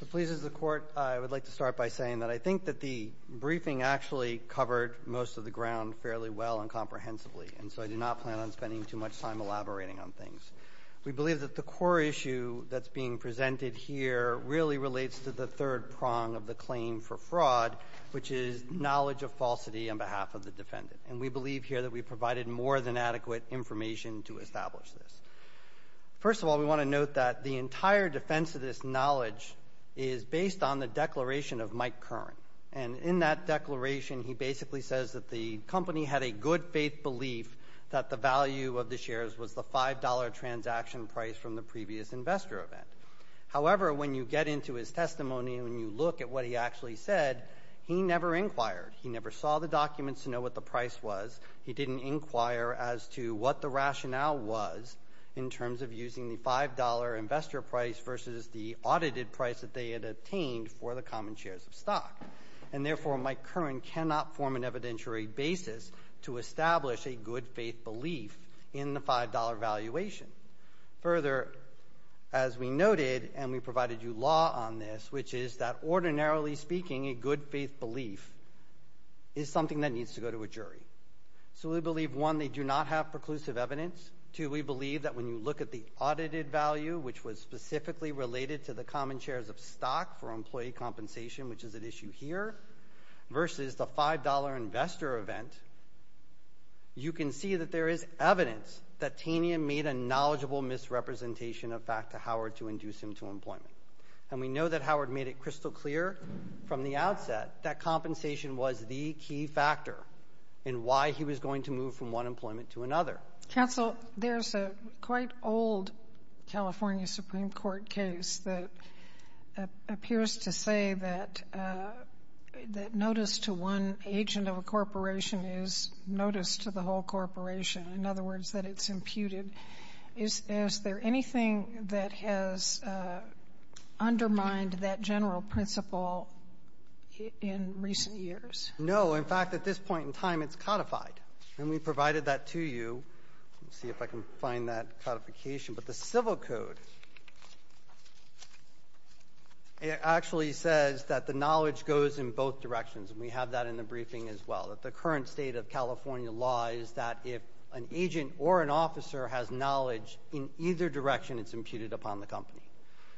It pleases the Court, I would like to start by saying that I think that the briefing actually covered most of the ground fairly well and comprehensively, and so I do not plan on spending too much time elaborating on things. We believe that the core issue that's being presented here really relates to the third prong of the claim for fraud, which is knowledge of falsity on behalf of the defendant. And we believe here that we provided more than adequate information to establish this. First of all, we want to note that the entire defense of this knowledge is based on the declaration of Mike Curran. And in that declaration, he basically says that the company had a good faith belief that the value of the shares was the $5 transaction price from the previous investor event. However, when you get into his testimony and you look at what he actually said, he never inquired. He never saw the documents to know what the price was. He didn't inquire as to what the rationale was in terms of using the $5 investor price versus the audited price that they had obtained for the common shares of stock. And therefore, Mike Curran cannot form an evidentiary basis to establish a good faith belief in the $5 valuation. Further, as we noted, and we provided you law on this, which is that ordinarily speaking, a good faith belief is something that needs to go to a jury. So we believe, one, they do not have preclusive evidence. Two, we believe that when you look at the audited value, which was specifically related to the common shares of stock for employee compensation, which is at issue here, versus the $5 investor event, you can see that there is evidence that Tanium made a knowledgeable misrepresentation of fact to Howard to induce him to employment. And we know that Howard made it crystal clear from the outset that compensation was the key factor in why he was going to move from one employment to another. Counsel, there's a quite old California Supreme Court case that appears to say that notice to one agent of a corporation is notice to the whole corporation. In other words, that it's imputed. Is there anything that has undermined that general principle in recent years? No. In fact, at this point in time, it's codified. And we provided that to you. Let's see if I can find that codification. But the civil code actually says that the knowledge goes in both directions. And we have that in the briefing as well. The current state of California law is that if an agent or an officer has knowledge in either direction, it's imputed upon the company.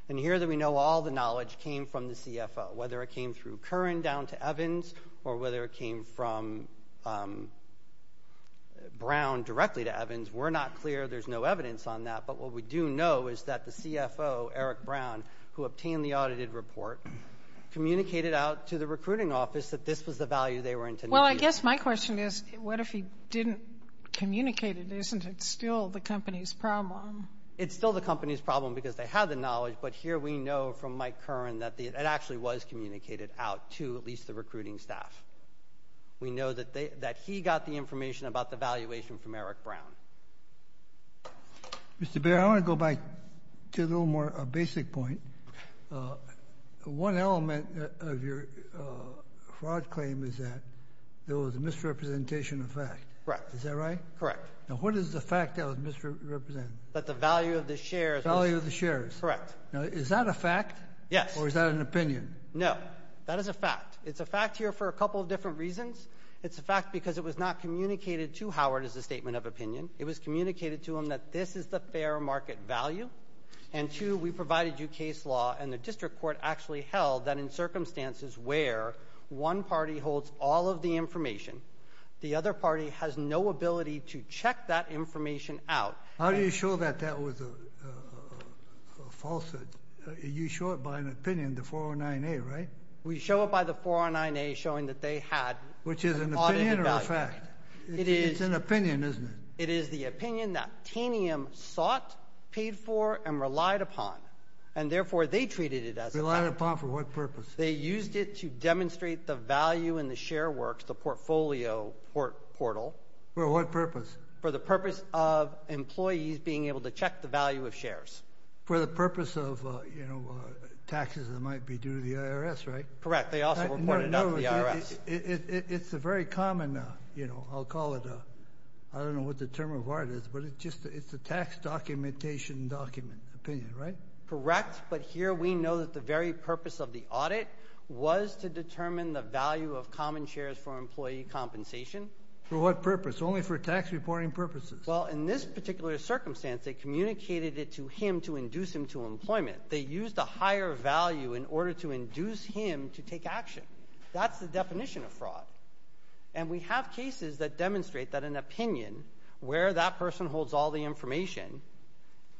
And here we know all the knowledge came from the CFO, whether it came through Curran down to Evans or whether it came from Brown directly to Evans. We're not clear. There's no evidence on that. But what we do know is that the CFO, Eric Brown, who obtained the audited report, communicated Well, I guess my question is, what if he didn't communicate it? Isn't it still the company's problem? It's still the company's problem because they have the knowledge. But here we know from Mike Curran that it actually was communicated out to at least the recruiting staff. We know that he got the information about the valuation from Eric Brown. Mr. Baird, I want to go back to a little more basic point. One element of your fraud claim is that there was a misrepresentation of fact. Correct. Is that right? Correct. Now, what is the fact that was misrepresented? That the value of the shares. The value of the shares. Correct. Now, is that a fact? Yes. Or is that an opinion? No. That is a fact. It's a fact here for a couple of different reasons. It's a fact because it was not communicated to Howard as a statement of opinion. It was communicated to him that this is the fair market value. And two, we provided you case law and the district court actually held that in circumstances where one party holds all of the information, the other party has no ability to check that information out. How do you show that that was a falsehood? You show it by an opinion, the 409A, right? We show it by the 409A showing that they had an audit evaluation. Which is an opinion or a fact? It is. It's an opinion, isn't it? It is the opinion that Tanium sought, paid for, and relied upon. And therefore, they treated it as a fact. Relied upon for what purpose? They used it to demonstrate the value in the share works, the portfolio portal. For what purpose? For the purpose of employees being able to check the value of shares. For the purpose of, you know, taxes that might be due to the IRS, right? Correct. They also reported it to the IRS. It's a very common, you know, I'll call it a, I don't know what the term of art is, but it's just, it's a tax documentation document, opinion, right? Correct. But here we know that the very purpose of the audit was to determine the value of common shares for employee compensation. For what purpose? Only for tax reporting purposes. Well, in this particular circumstance, they communicated it to him to induce him to employment. They used a higher value in order to induce him to take action. That's the definition of fraud. And we have cases that demonstrate that an opinion, where that person holds all the information,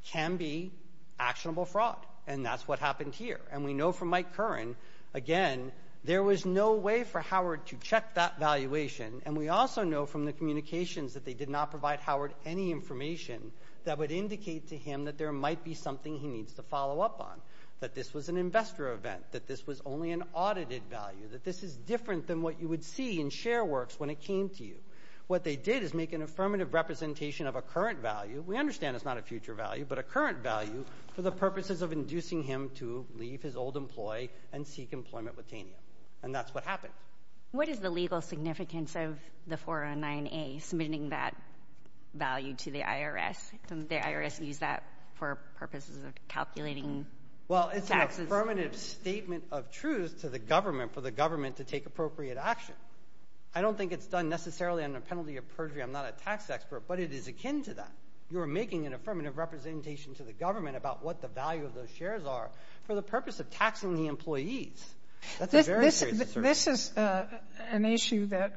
can be actionable fraud. And that's what happened here. And we know from Mike Curran, again, there was no way for Howard to check that valuation. And we also know from the communications that they did not provide Howard any information that would indicate to him that there might be something he needs to follow up on. That this was an investor event, that this was only an audited value, that this is different than what you would see in ShareWorks when it came to you. What they did is make an affirmative representation of a current value. We understand it's not a future value, but a current value for the purposes of inducing him to leave his old employee and seek employment with Tania. And that's what happened. What is the legal significance of the 409A, submitting that value to the IRS? Did the IRS use that for purposes of calculating taxes? Well, it's an affirmative statement of truth to the government for the government to take appropriate action. I don't think it's done necessarily under penalty of perjury. I'm not a tax expert, but it is akin to that. You're making an affirmative representation to the government about what the value of those shares are for the purpose of taxing the employees. That's a very serious assertion. This is an issue that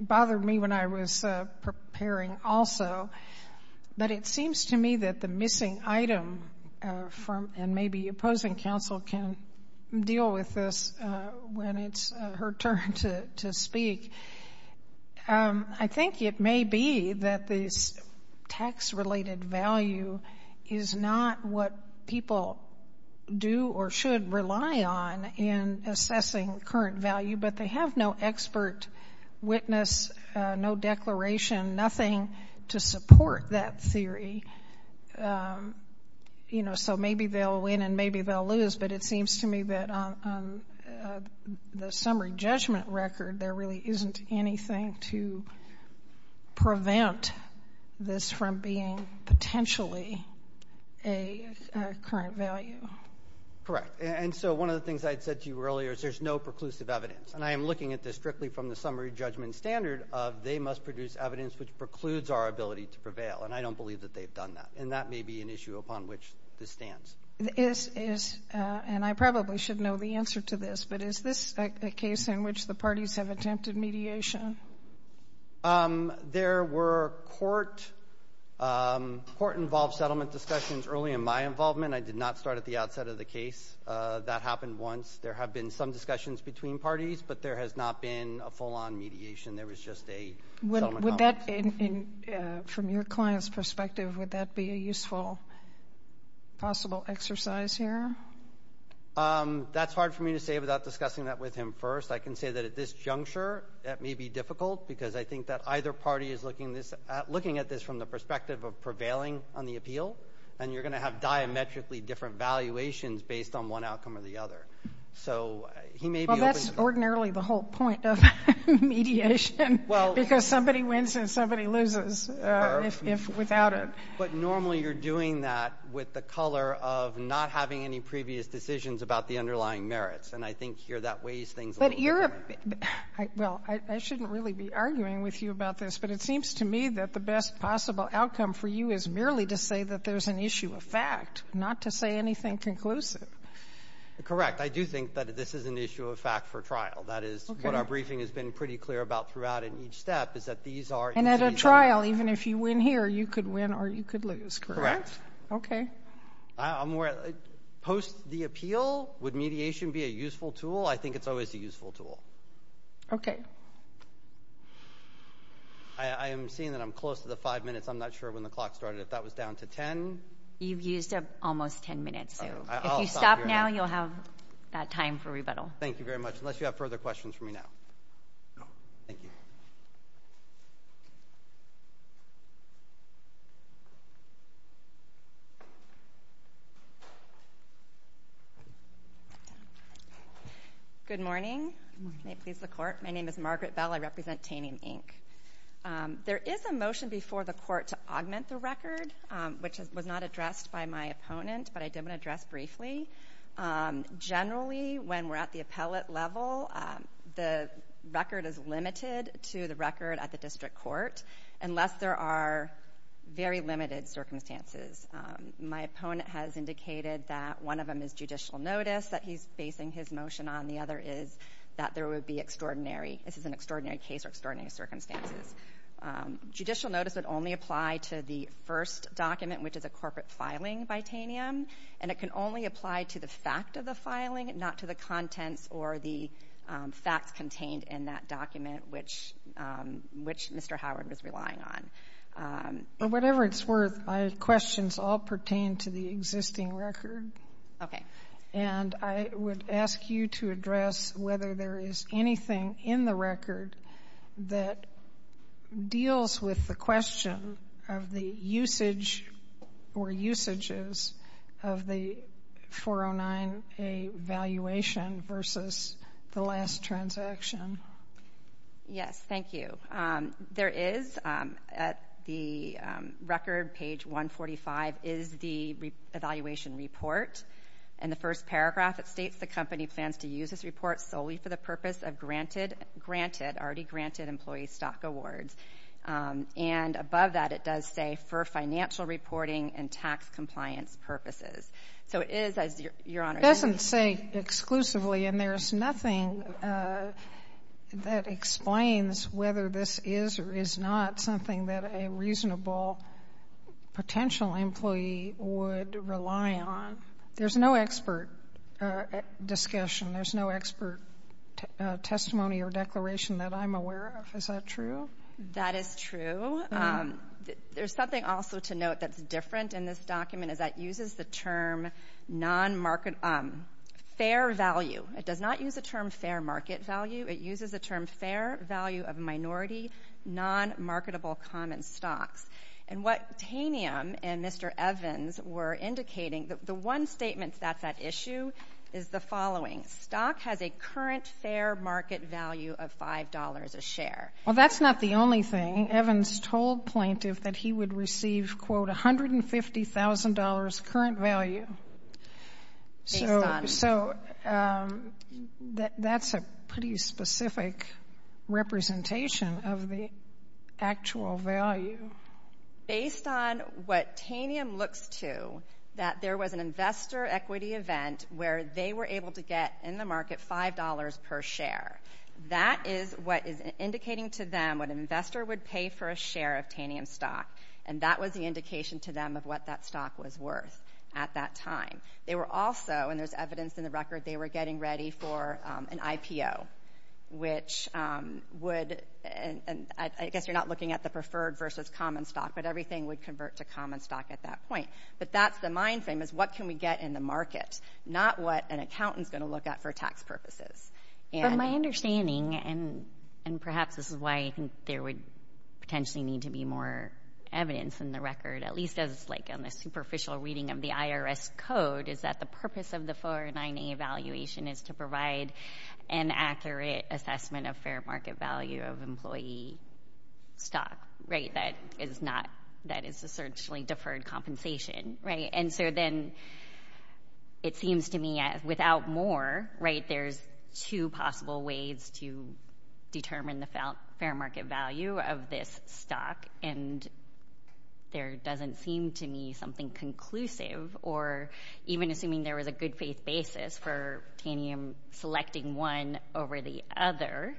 bothered me when I was preparing also, but it seems to me that the missing item from, and maybe opposing counsel can deal with this when it's her turn to speak. I think it may be that this tax-related value is not what people do or should rely on in assessing current value, but they have no expert witness, no declaration, nothing to support that theory. You know, so maybe they'll win and maybe they'll lose, but it seems to me that on the summary judgment record, there really isn't anything to prevent this from being potentially a current value. Correct. And so one of the things I had said to you earlier is there's no preclusive evidence. And I am looking at this strictly from the summary judgment standard of they must produce evidence which precludes our ability to prevail, and I don't believe that they've done that. And that may be an issue upon which this stands. Is, and I probably should know the answer to this, but is this a case in which the parties have attempted mediation? There were court-involved settlement discussions early in my involvement. I did not start at the outset of the case. That happened once. There have been some discussions between parties, but there has not been a full-on mediation. There was just a settlement. Would that, from your client's perspective, would that be a useful possible exercise here? That's hard for me to say without discussing that with him first. I can say that at this juncture, that may be difficult because I think that either party is looking at this from the perspective of prevailing on the appeal, and you're going to have diametrically different valuations based on one outcome or the other. So he may be open to that. That's ordinarily the whole point of mediation, because somebody wins and somebody loses without it. But normally you're doing that with the color of not having any previous decisions about the underlying merits, and I think here that weighs things a little bit. But you're, well, I shouldn't really be arguing with you about this, but it seems to me that the best possible outcome for you is merely to say that there's an issue of fact, not to say anything conclusive. Correct. Correct. I do think that this is an issue of fact for trial. That is what our briefing has been pretty clear about throughout in each step, is that these are... And at a trial, even if you win here, you could win or you could lose, correct? Correct. Okay. I'm more, post the appeal, would mediation be a useful tool? I think it's always a useful tool. Okay. I am seeing that I'm close to the five minutes. I'm not sure when the clock started. If that was down to ten... You've used up almost ten minutes, so if you stop now, you'll have... That time for rebuttal. Thank you very much. Unless you have further questions for me now. No. Thank you. Good morning. Good morning. May it please the Court. My name is Margaret Bell. I represent Taney & Inc. There is a motion before the Court to augment the record, which was not addressed by my opponent. Generally, when we're at the appellate level, the record is limited to the record at the District Court, unless there are very limited circumstances. My opponent has indicated that one of them is judicial notice that he's basing his motion on. The other is that there would be extraordinary, this is an extraordinary case or extraordinary circumstances. Judicial notice would only apply to the first document, which is a corporate filing bitanium, and it can only apply to the fact of the filing, not to the contents or the facts contained in that document, which Mr. Howard was relying on. For whatever it's worth, my questions all pertain to the existing record, and I would ask you to address whether there is anything in the record that deals with the question of the usage or usages of the 409A valuation versus the last transaction. Yes. Thank you. There is, at the record, page 145, is the evaluation report. In the first paragraph, it states the company plans to use this report solely for the purpose of granted, already granted employee stock awards. And above that, it does say for financial reporting and tax compliance purposes. So it is, as Your Honor, It doesn't say exclusively, and there's nothing that explains whether this is or is not something that a reasonable potential employee would rely on. There's no expert discussion. There's no expert testimony or declaration that I'm aware of. Is that true? That is true. There's something also to note that's different in this document, is that it uses the term non-market, fair value. It does not use the term fair market value. It uses the term fair value of minority, non-marketable common stocks. And what Tanium and Mr. Evans were indicating, the one statement that's at issue is the following. Stock has a current fair market value of $5 a share. Well, that's not the only thing. Evans told plaintiff that he would receive, quote, $150,000 current value. So that's a pretty specific representation of the actual value. Based on what Tanium looks to, that there was an investor equity event where they were able to get, in the market, $5 per share. That is what is indicating to them what an investor would pay for a share of Tanium stock. And that was the indication to them of what that stock was worth at that time. They were also, and there's evidence in the record, they were getting ready for an IPO, which would, and I guess you're not looking at the preferred versus common stock, but everything would convert to common stock at that point. But that's the mind frame, is what can we get in the market? Not what an accountant's going to look at for tax purposes. But my understanding, and perhaps this is why I think there would potentially need to be more evidence in the record, at least as like in the superficial reading of the IRS code, is that the purpose of the 49A evaluation is to provide an accurate assessment of fair market value of employee stock, right? That is not, that is a certainly deferred compensation, right? And so then, it seems to me without more, right, there's two possible ways to determine the fair market value of this stock, and there doesn't seem to me something conclusive. Or even assuming there was a good faith basis for Tanium selecting one over the other,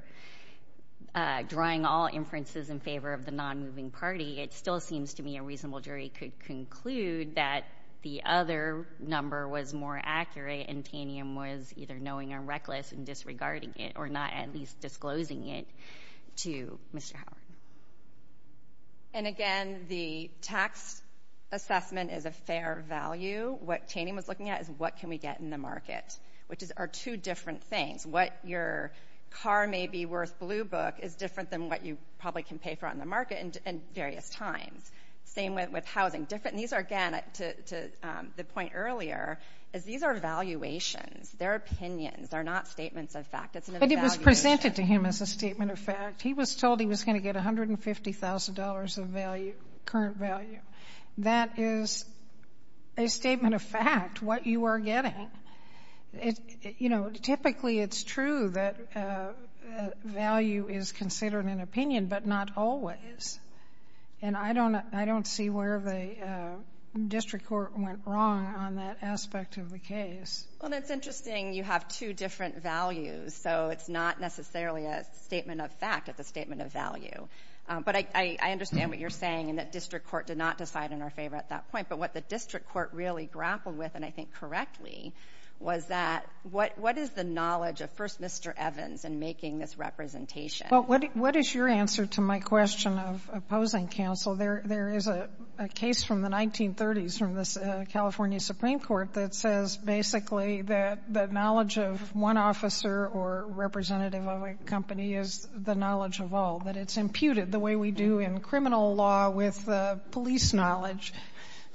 drawing all inferences in favor of the non-moving party, it still seems to me a reasonable jury could conclude that the other number was more accurate and Tanium was either knowing or reckless in disregarding it, or not at least disclosing it to Mr. Howard. And again, the tax assessment is a fair value. What Tanium was looking at is what can we get in the market, which are two different things. What your car may be worth blue book is different than what you probably can pay for on the market in various times. Same with housing. Different, and these are, again, to the point earlier, is these are valuations. They're opinions. They're not statements of fact. It's an evaluation. But it was presented to him as a statement of fact. He was told he was going to get $150,000 of value, current value. That is a statement of fact, what you are getting. You know, typically it's true that value is considered an opinion, but not always. And I don't see where the district court went wrong on that aspect of the case. Well, that's interesting. You have two different values, so it's not necessarily a statement of fact. It's a statement of value. But I understand what you're saying in that district court did not decide in our favor at that point. But what the district court really grappled with, and I think correctly, was that what is the knowledge of first Mr. Evans in making this representation? Well, what is your answer to my question of opposing counsel? There is a case from the 1930s from the California Supreme Court that says, basically, that knowledge of one officer or representative of a company is the knowledge of all, that it's imputed the way we do in criminal law with police knowledge.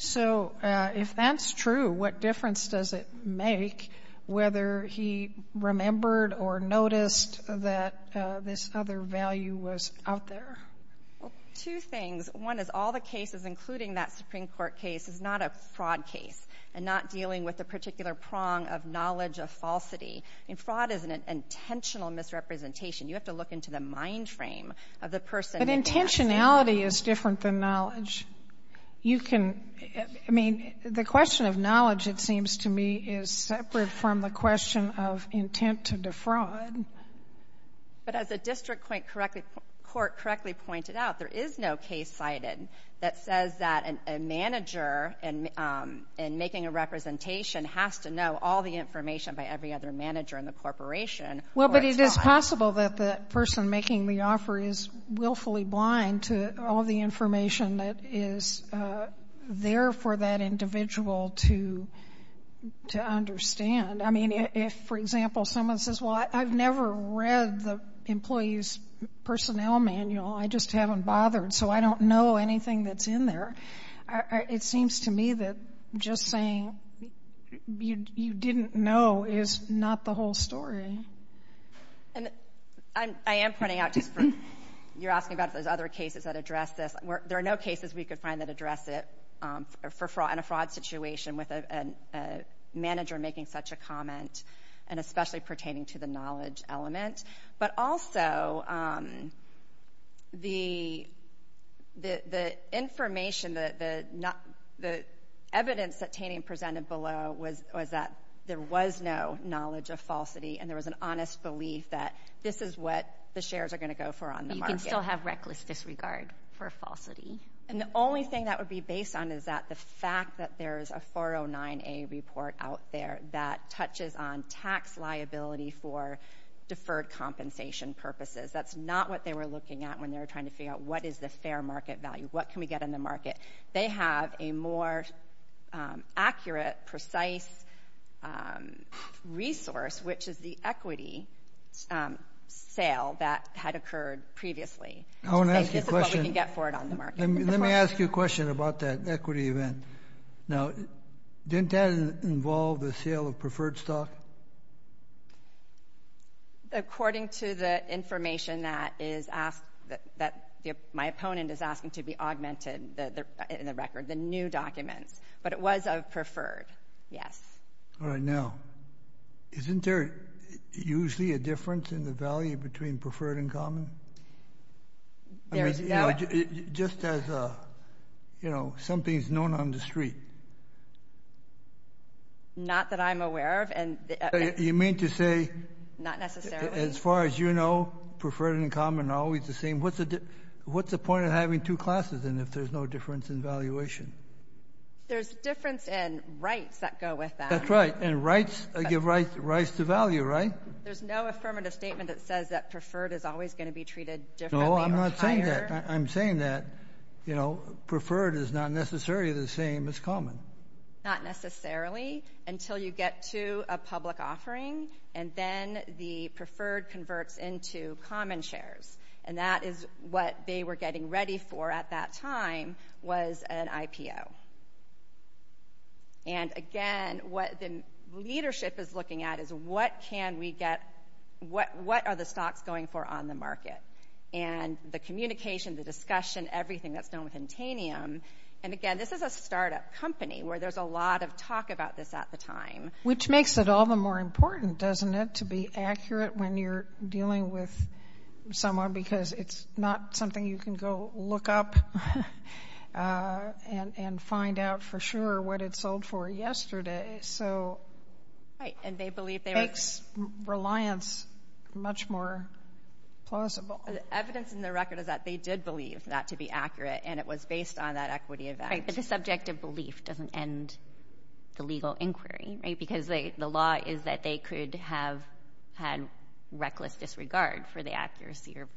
So if that's true, what difference does it make whether he remembered or noticed that this other value was out there? Well, two things. One is all the cases, including that Supreme Court case, is not a fraud case and not dealing with a particular prong of knowledge of falsity. I mean, fraud is an intentional misrepresentation. You have to look into the mind frame of the person— But intentionality is different than knowledge. You can—I mean, the question of knowledge, it seems to me, is separate from the question of intent to defraud. But as the district court correctly pointed out, there is no case cited that says that a manager in making a representation has to know all the information by every other manager in the corporation. Well, but it is possible that the person making the offer is willfully blind to all the information that is there for that individual to understand. I mean, if, for example, someone says, well, I've never read the employee's personnel manual. I just haven't bothered, so I don't know anything that's in there. It seems to me that just saying you didn't know is not the whole story. And I am pointing out just for—you're asking about those other cases that address this. There are no cases we could find that address it in a fraud situation with a manager making such a comment, and especially pertaining to the knowledge element. But also, the information, the evidence that Taney presented below was that there was no knowledge of falsity, and there was an honest belief that this is what the shares are going to go for on the market. You can still have reckless disregard for falsity. And the only thing that would be based on is that the fact that there is a 409A report out there that touches on tax liability for deferred compensation purposes. That's not what they were looking at when they were trying to figure out what is the fair market value, what can we get in the market. They have a more accurate, precise resource, which is the equity sale that had occurred previously. I want to ask you a question. This is what we can get for it on the market. Let me ask you a question about that equity event. Now, didn't that involve the sale of preferred stock? According to the information that my opponent is asking to be augmented in the record, the new documents. But it was of preferred, yes. All right. Now, isn't there usually a difference in the value between preferred and common? Just as, you know, something is known on the street. Not that I'm aware of. You mean to say, as far as you know, preferred and common are always the same. What's the point of having two classes if there's no difference in valuation? There's difference in rights that go with that. That's right. And rights give rise to value, right? There's no affirmative statement that says that preferred is always going to be treated differently or higher. No, I'm not saying that. I'm saying that, you know, preferred is not necessarily the same as common. Not necessarily until you get to a public offering and then the preferred converts into common shares. And that is what they were getting ready for at that time was an IPO. And, again, what the leadership is looking at is what can we get, what are the stocks going for on the market? And the communication, the discussion, everything that's done with Intanium, and, again, this is a startup company where there's a lot of talk about this at the time. Which makes it all the more important, doesn't it, to be accurate when you're dealing with someone because it's not something you can go look up and find out for sure what it sold for yesterday. So it makes reliance much more plausible. The evidence in the record is that they did believe that to be accurate, and it was based on that equity event. Right, but the subject of belief doesn't end the legal inquiry, right? Because the law is that they could have had reckless disregard for the accuracy or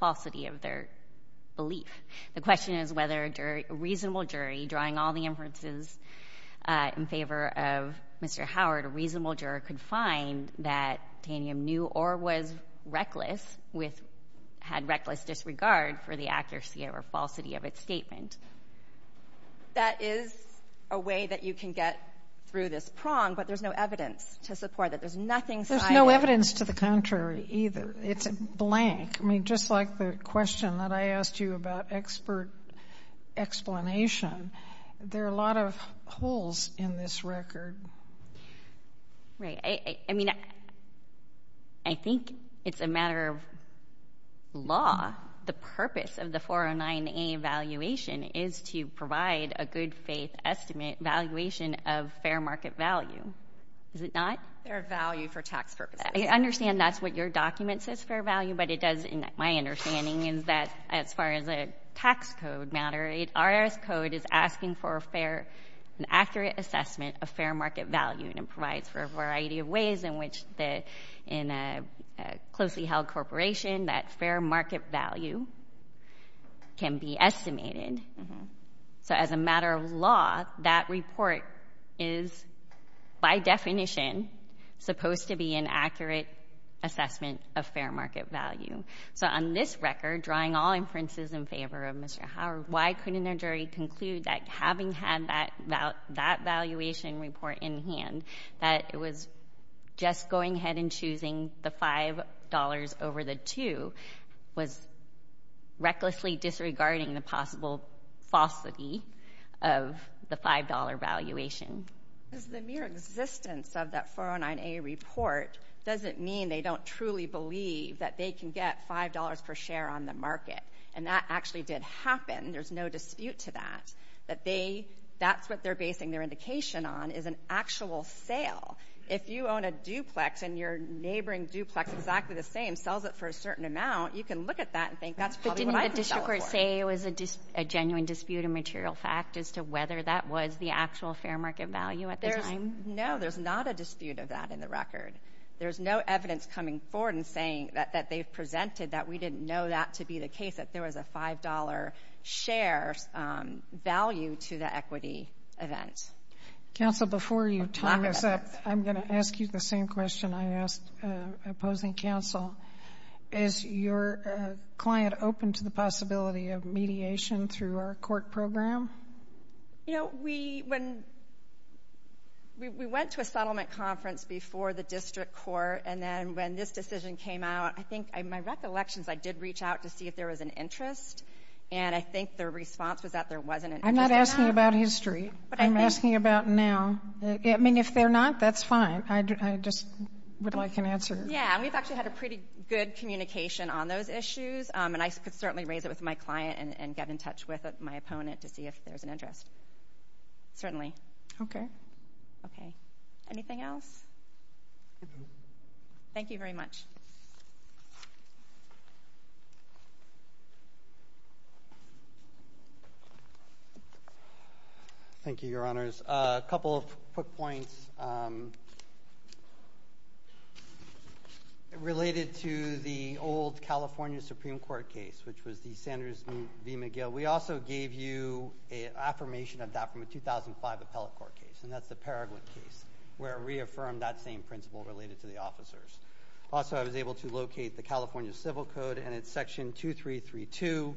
falsity of their belief. The question is whether a reasonable jury, drawing all the inferences in favor of Mr. Howard, a reasonable juror, could find that Intanium knew or was reckless, had reckless disregard for the accuracy or falsity of its statement. That is a way that you can get through this prong, but there's no evidence to support that. There's nothing... There's no evidence to the contrary, either. It's blank. I mean, just like the question that I asked you about expert explanation, there are a lot of holes in this record. Right. I mean, I think it's a matter of law. The purpose of the 409A evaluation is to provide a good-faith estimate, valuation of fair market value. Is it not? Fair value for tax purposes. I understand that's what your document says, fair value, but it doesn't... My understanding is that as far as a tax code matter, RS code is asking for a fair and accurate assessment of fair market value, and it provides for a variety of ways in which, in a closely held corporation, that fair market value can be estimated. So as a matter of law, that report is, by definition, supposed to be an accurate assessment of fair market value. So on this record, drawing all inferences in favor of Mr. Howard, why couldn't a jury conclude that having had that valuation report in hand, that it was just going ahead and choosing the $5 over the 2 was recklessly disregarding the possible falsity of the $5 valuation? Because the mere existence of that 409A report doesn't mean they don't truly believe that they can get $5 per share on the market, and that actually did happen. And there's no dispute to that, that they, that's what they're basing their indication on is an actual sale. If you own a duplex and your neighboring duplex, exactly the same, sells it for a certain amount, you can look at that and think, that's probably what I can sell it for. But didn't the district court say it was a genuine dispute of material fact as to whether that was the actual fair market value at the time? No, there's not a dispute of that in the record. There's no evidence coming forward and saying that they've presented that we didn't know that to be the case, that there was a $5 share value to the equity event. Counsel, before you tie this up, I'm going to ask you the same question I asked opposing counsel. Is your client open to the possibility of mediation through our court program? You know, we, when, we went to a settlement conference before the district court, and then when this decision came out, I think, in my recollections, I did reach out to see if there was an interest, and I think their response was that there wasn't an interest. I'm not asking about history. I'm asking about now. I mean, if they're not, that's fine. I just would like an answer. Yeah, and we've actually had a pretty good communication on those issues, and I could certainly raise it with my client and get in touch with my opponent to see if there's an interest. Certainly. Okay. Okay. Anything else? Thank you very much. Thank you, Your Honors. A couple of quick points related to the old California Supreme Court case, which was the Sanders v. McGill. We also gave you an affirmation of that from a 2005 appellate court case, and that's the same principle related to the officers. Also, I was able to locate the California Civil Code, and it's section 2332,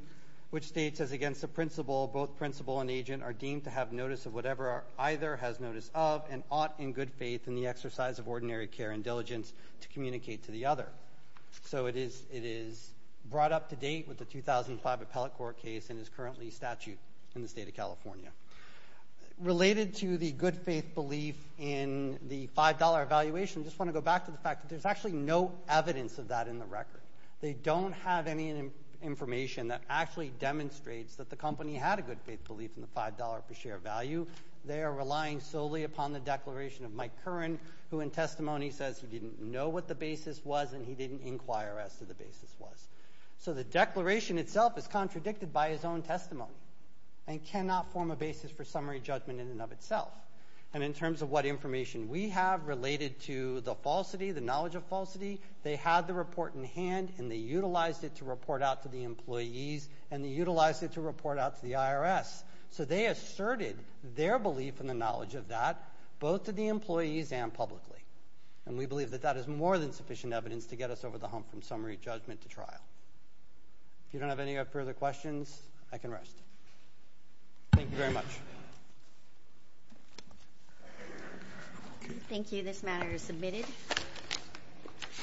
which states, as against the principle, both principle and agent are deemed to have notice of whatever either has notice of, and ought, in good faith, in the exercise of ordinary care and diligence, to communicate to the other. So it is brought up to date with the 2005 appellate court case, and is currently statute in the state of California. Related to the good faith belief in the $5 evaluation, I just want to go back to the fact that there's actually no evidence of that in the record. They don't have any information that actually demonstrates that the company had a good faith belief in the $5 per share value. They are relying solely upon the declaration of Mike Curran, who in testimony says he didn't know what the basis was, and he didn't inquire as to the basis was. So the declaration itself is contradicted by his own testimony, and cannot form a basis for summary judgment in and of itself. And in terms of what information we have related to the falsity, the knowledge of falsity, they had the report in hand, and they utilized it to report out to the employees, and they utilized it to report out to the IRS. So they asserted their belief in the knowledge of that, both to the employees and publicly. And we believe that that is more than sufficient evidence to get us over the hump from summary judgment to trial. If you don't have any further questions, I can rest. Thank you very much. Thank you. This matter is submitted.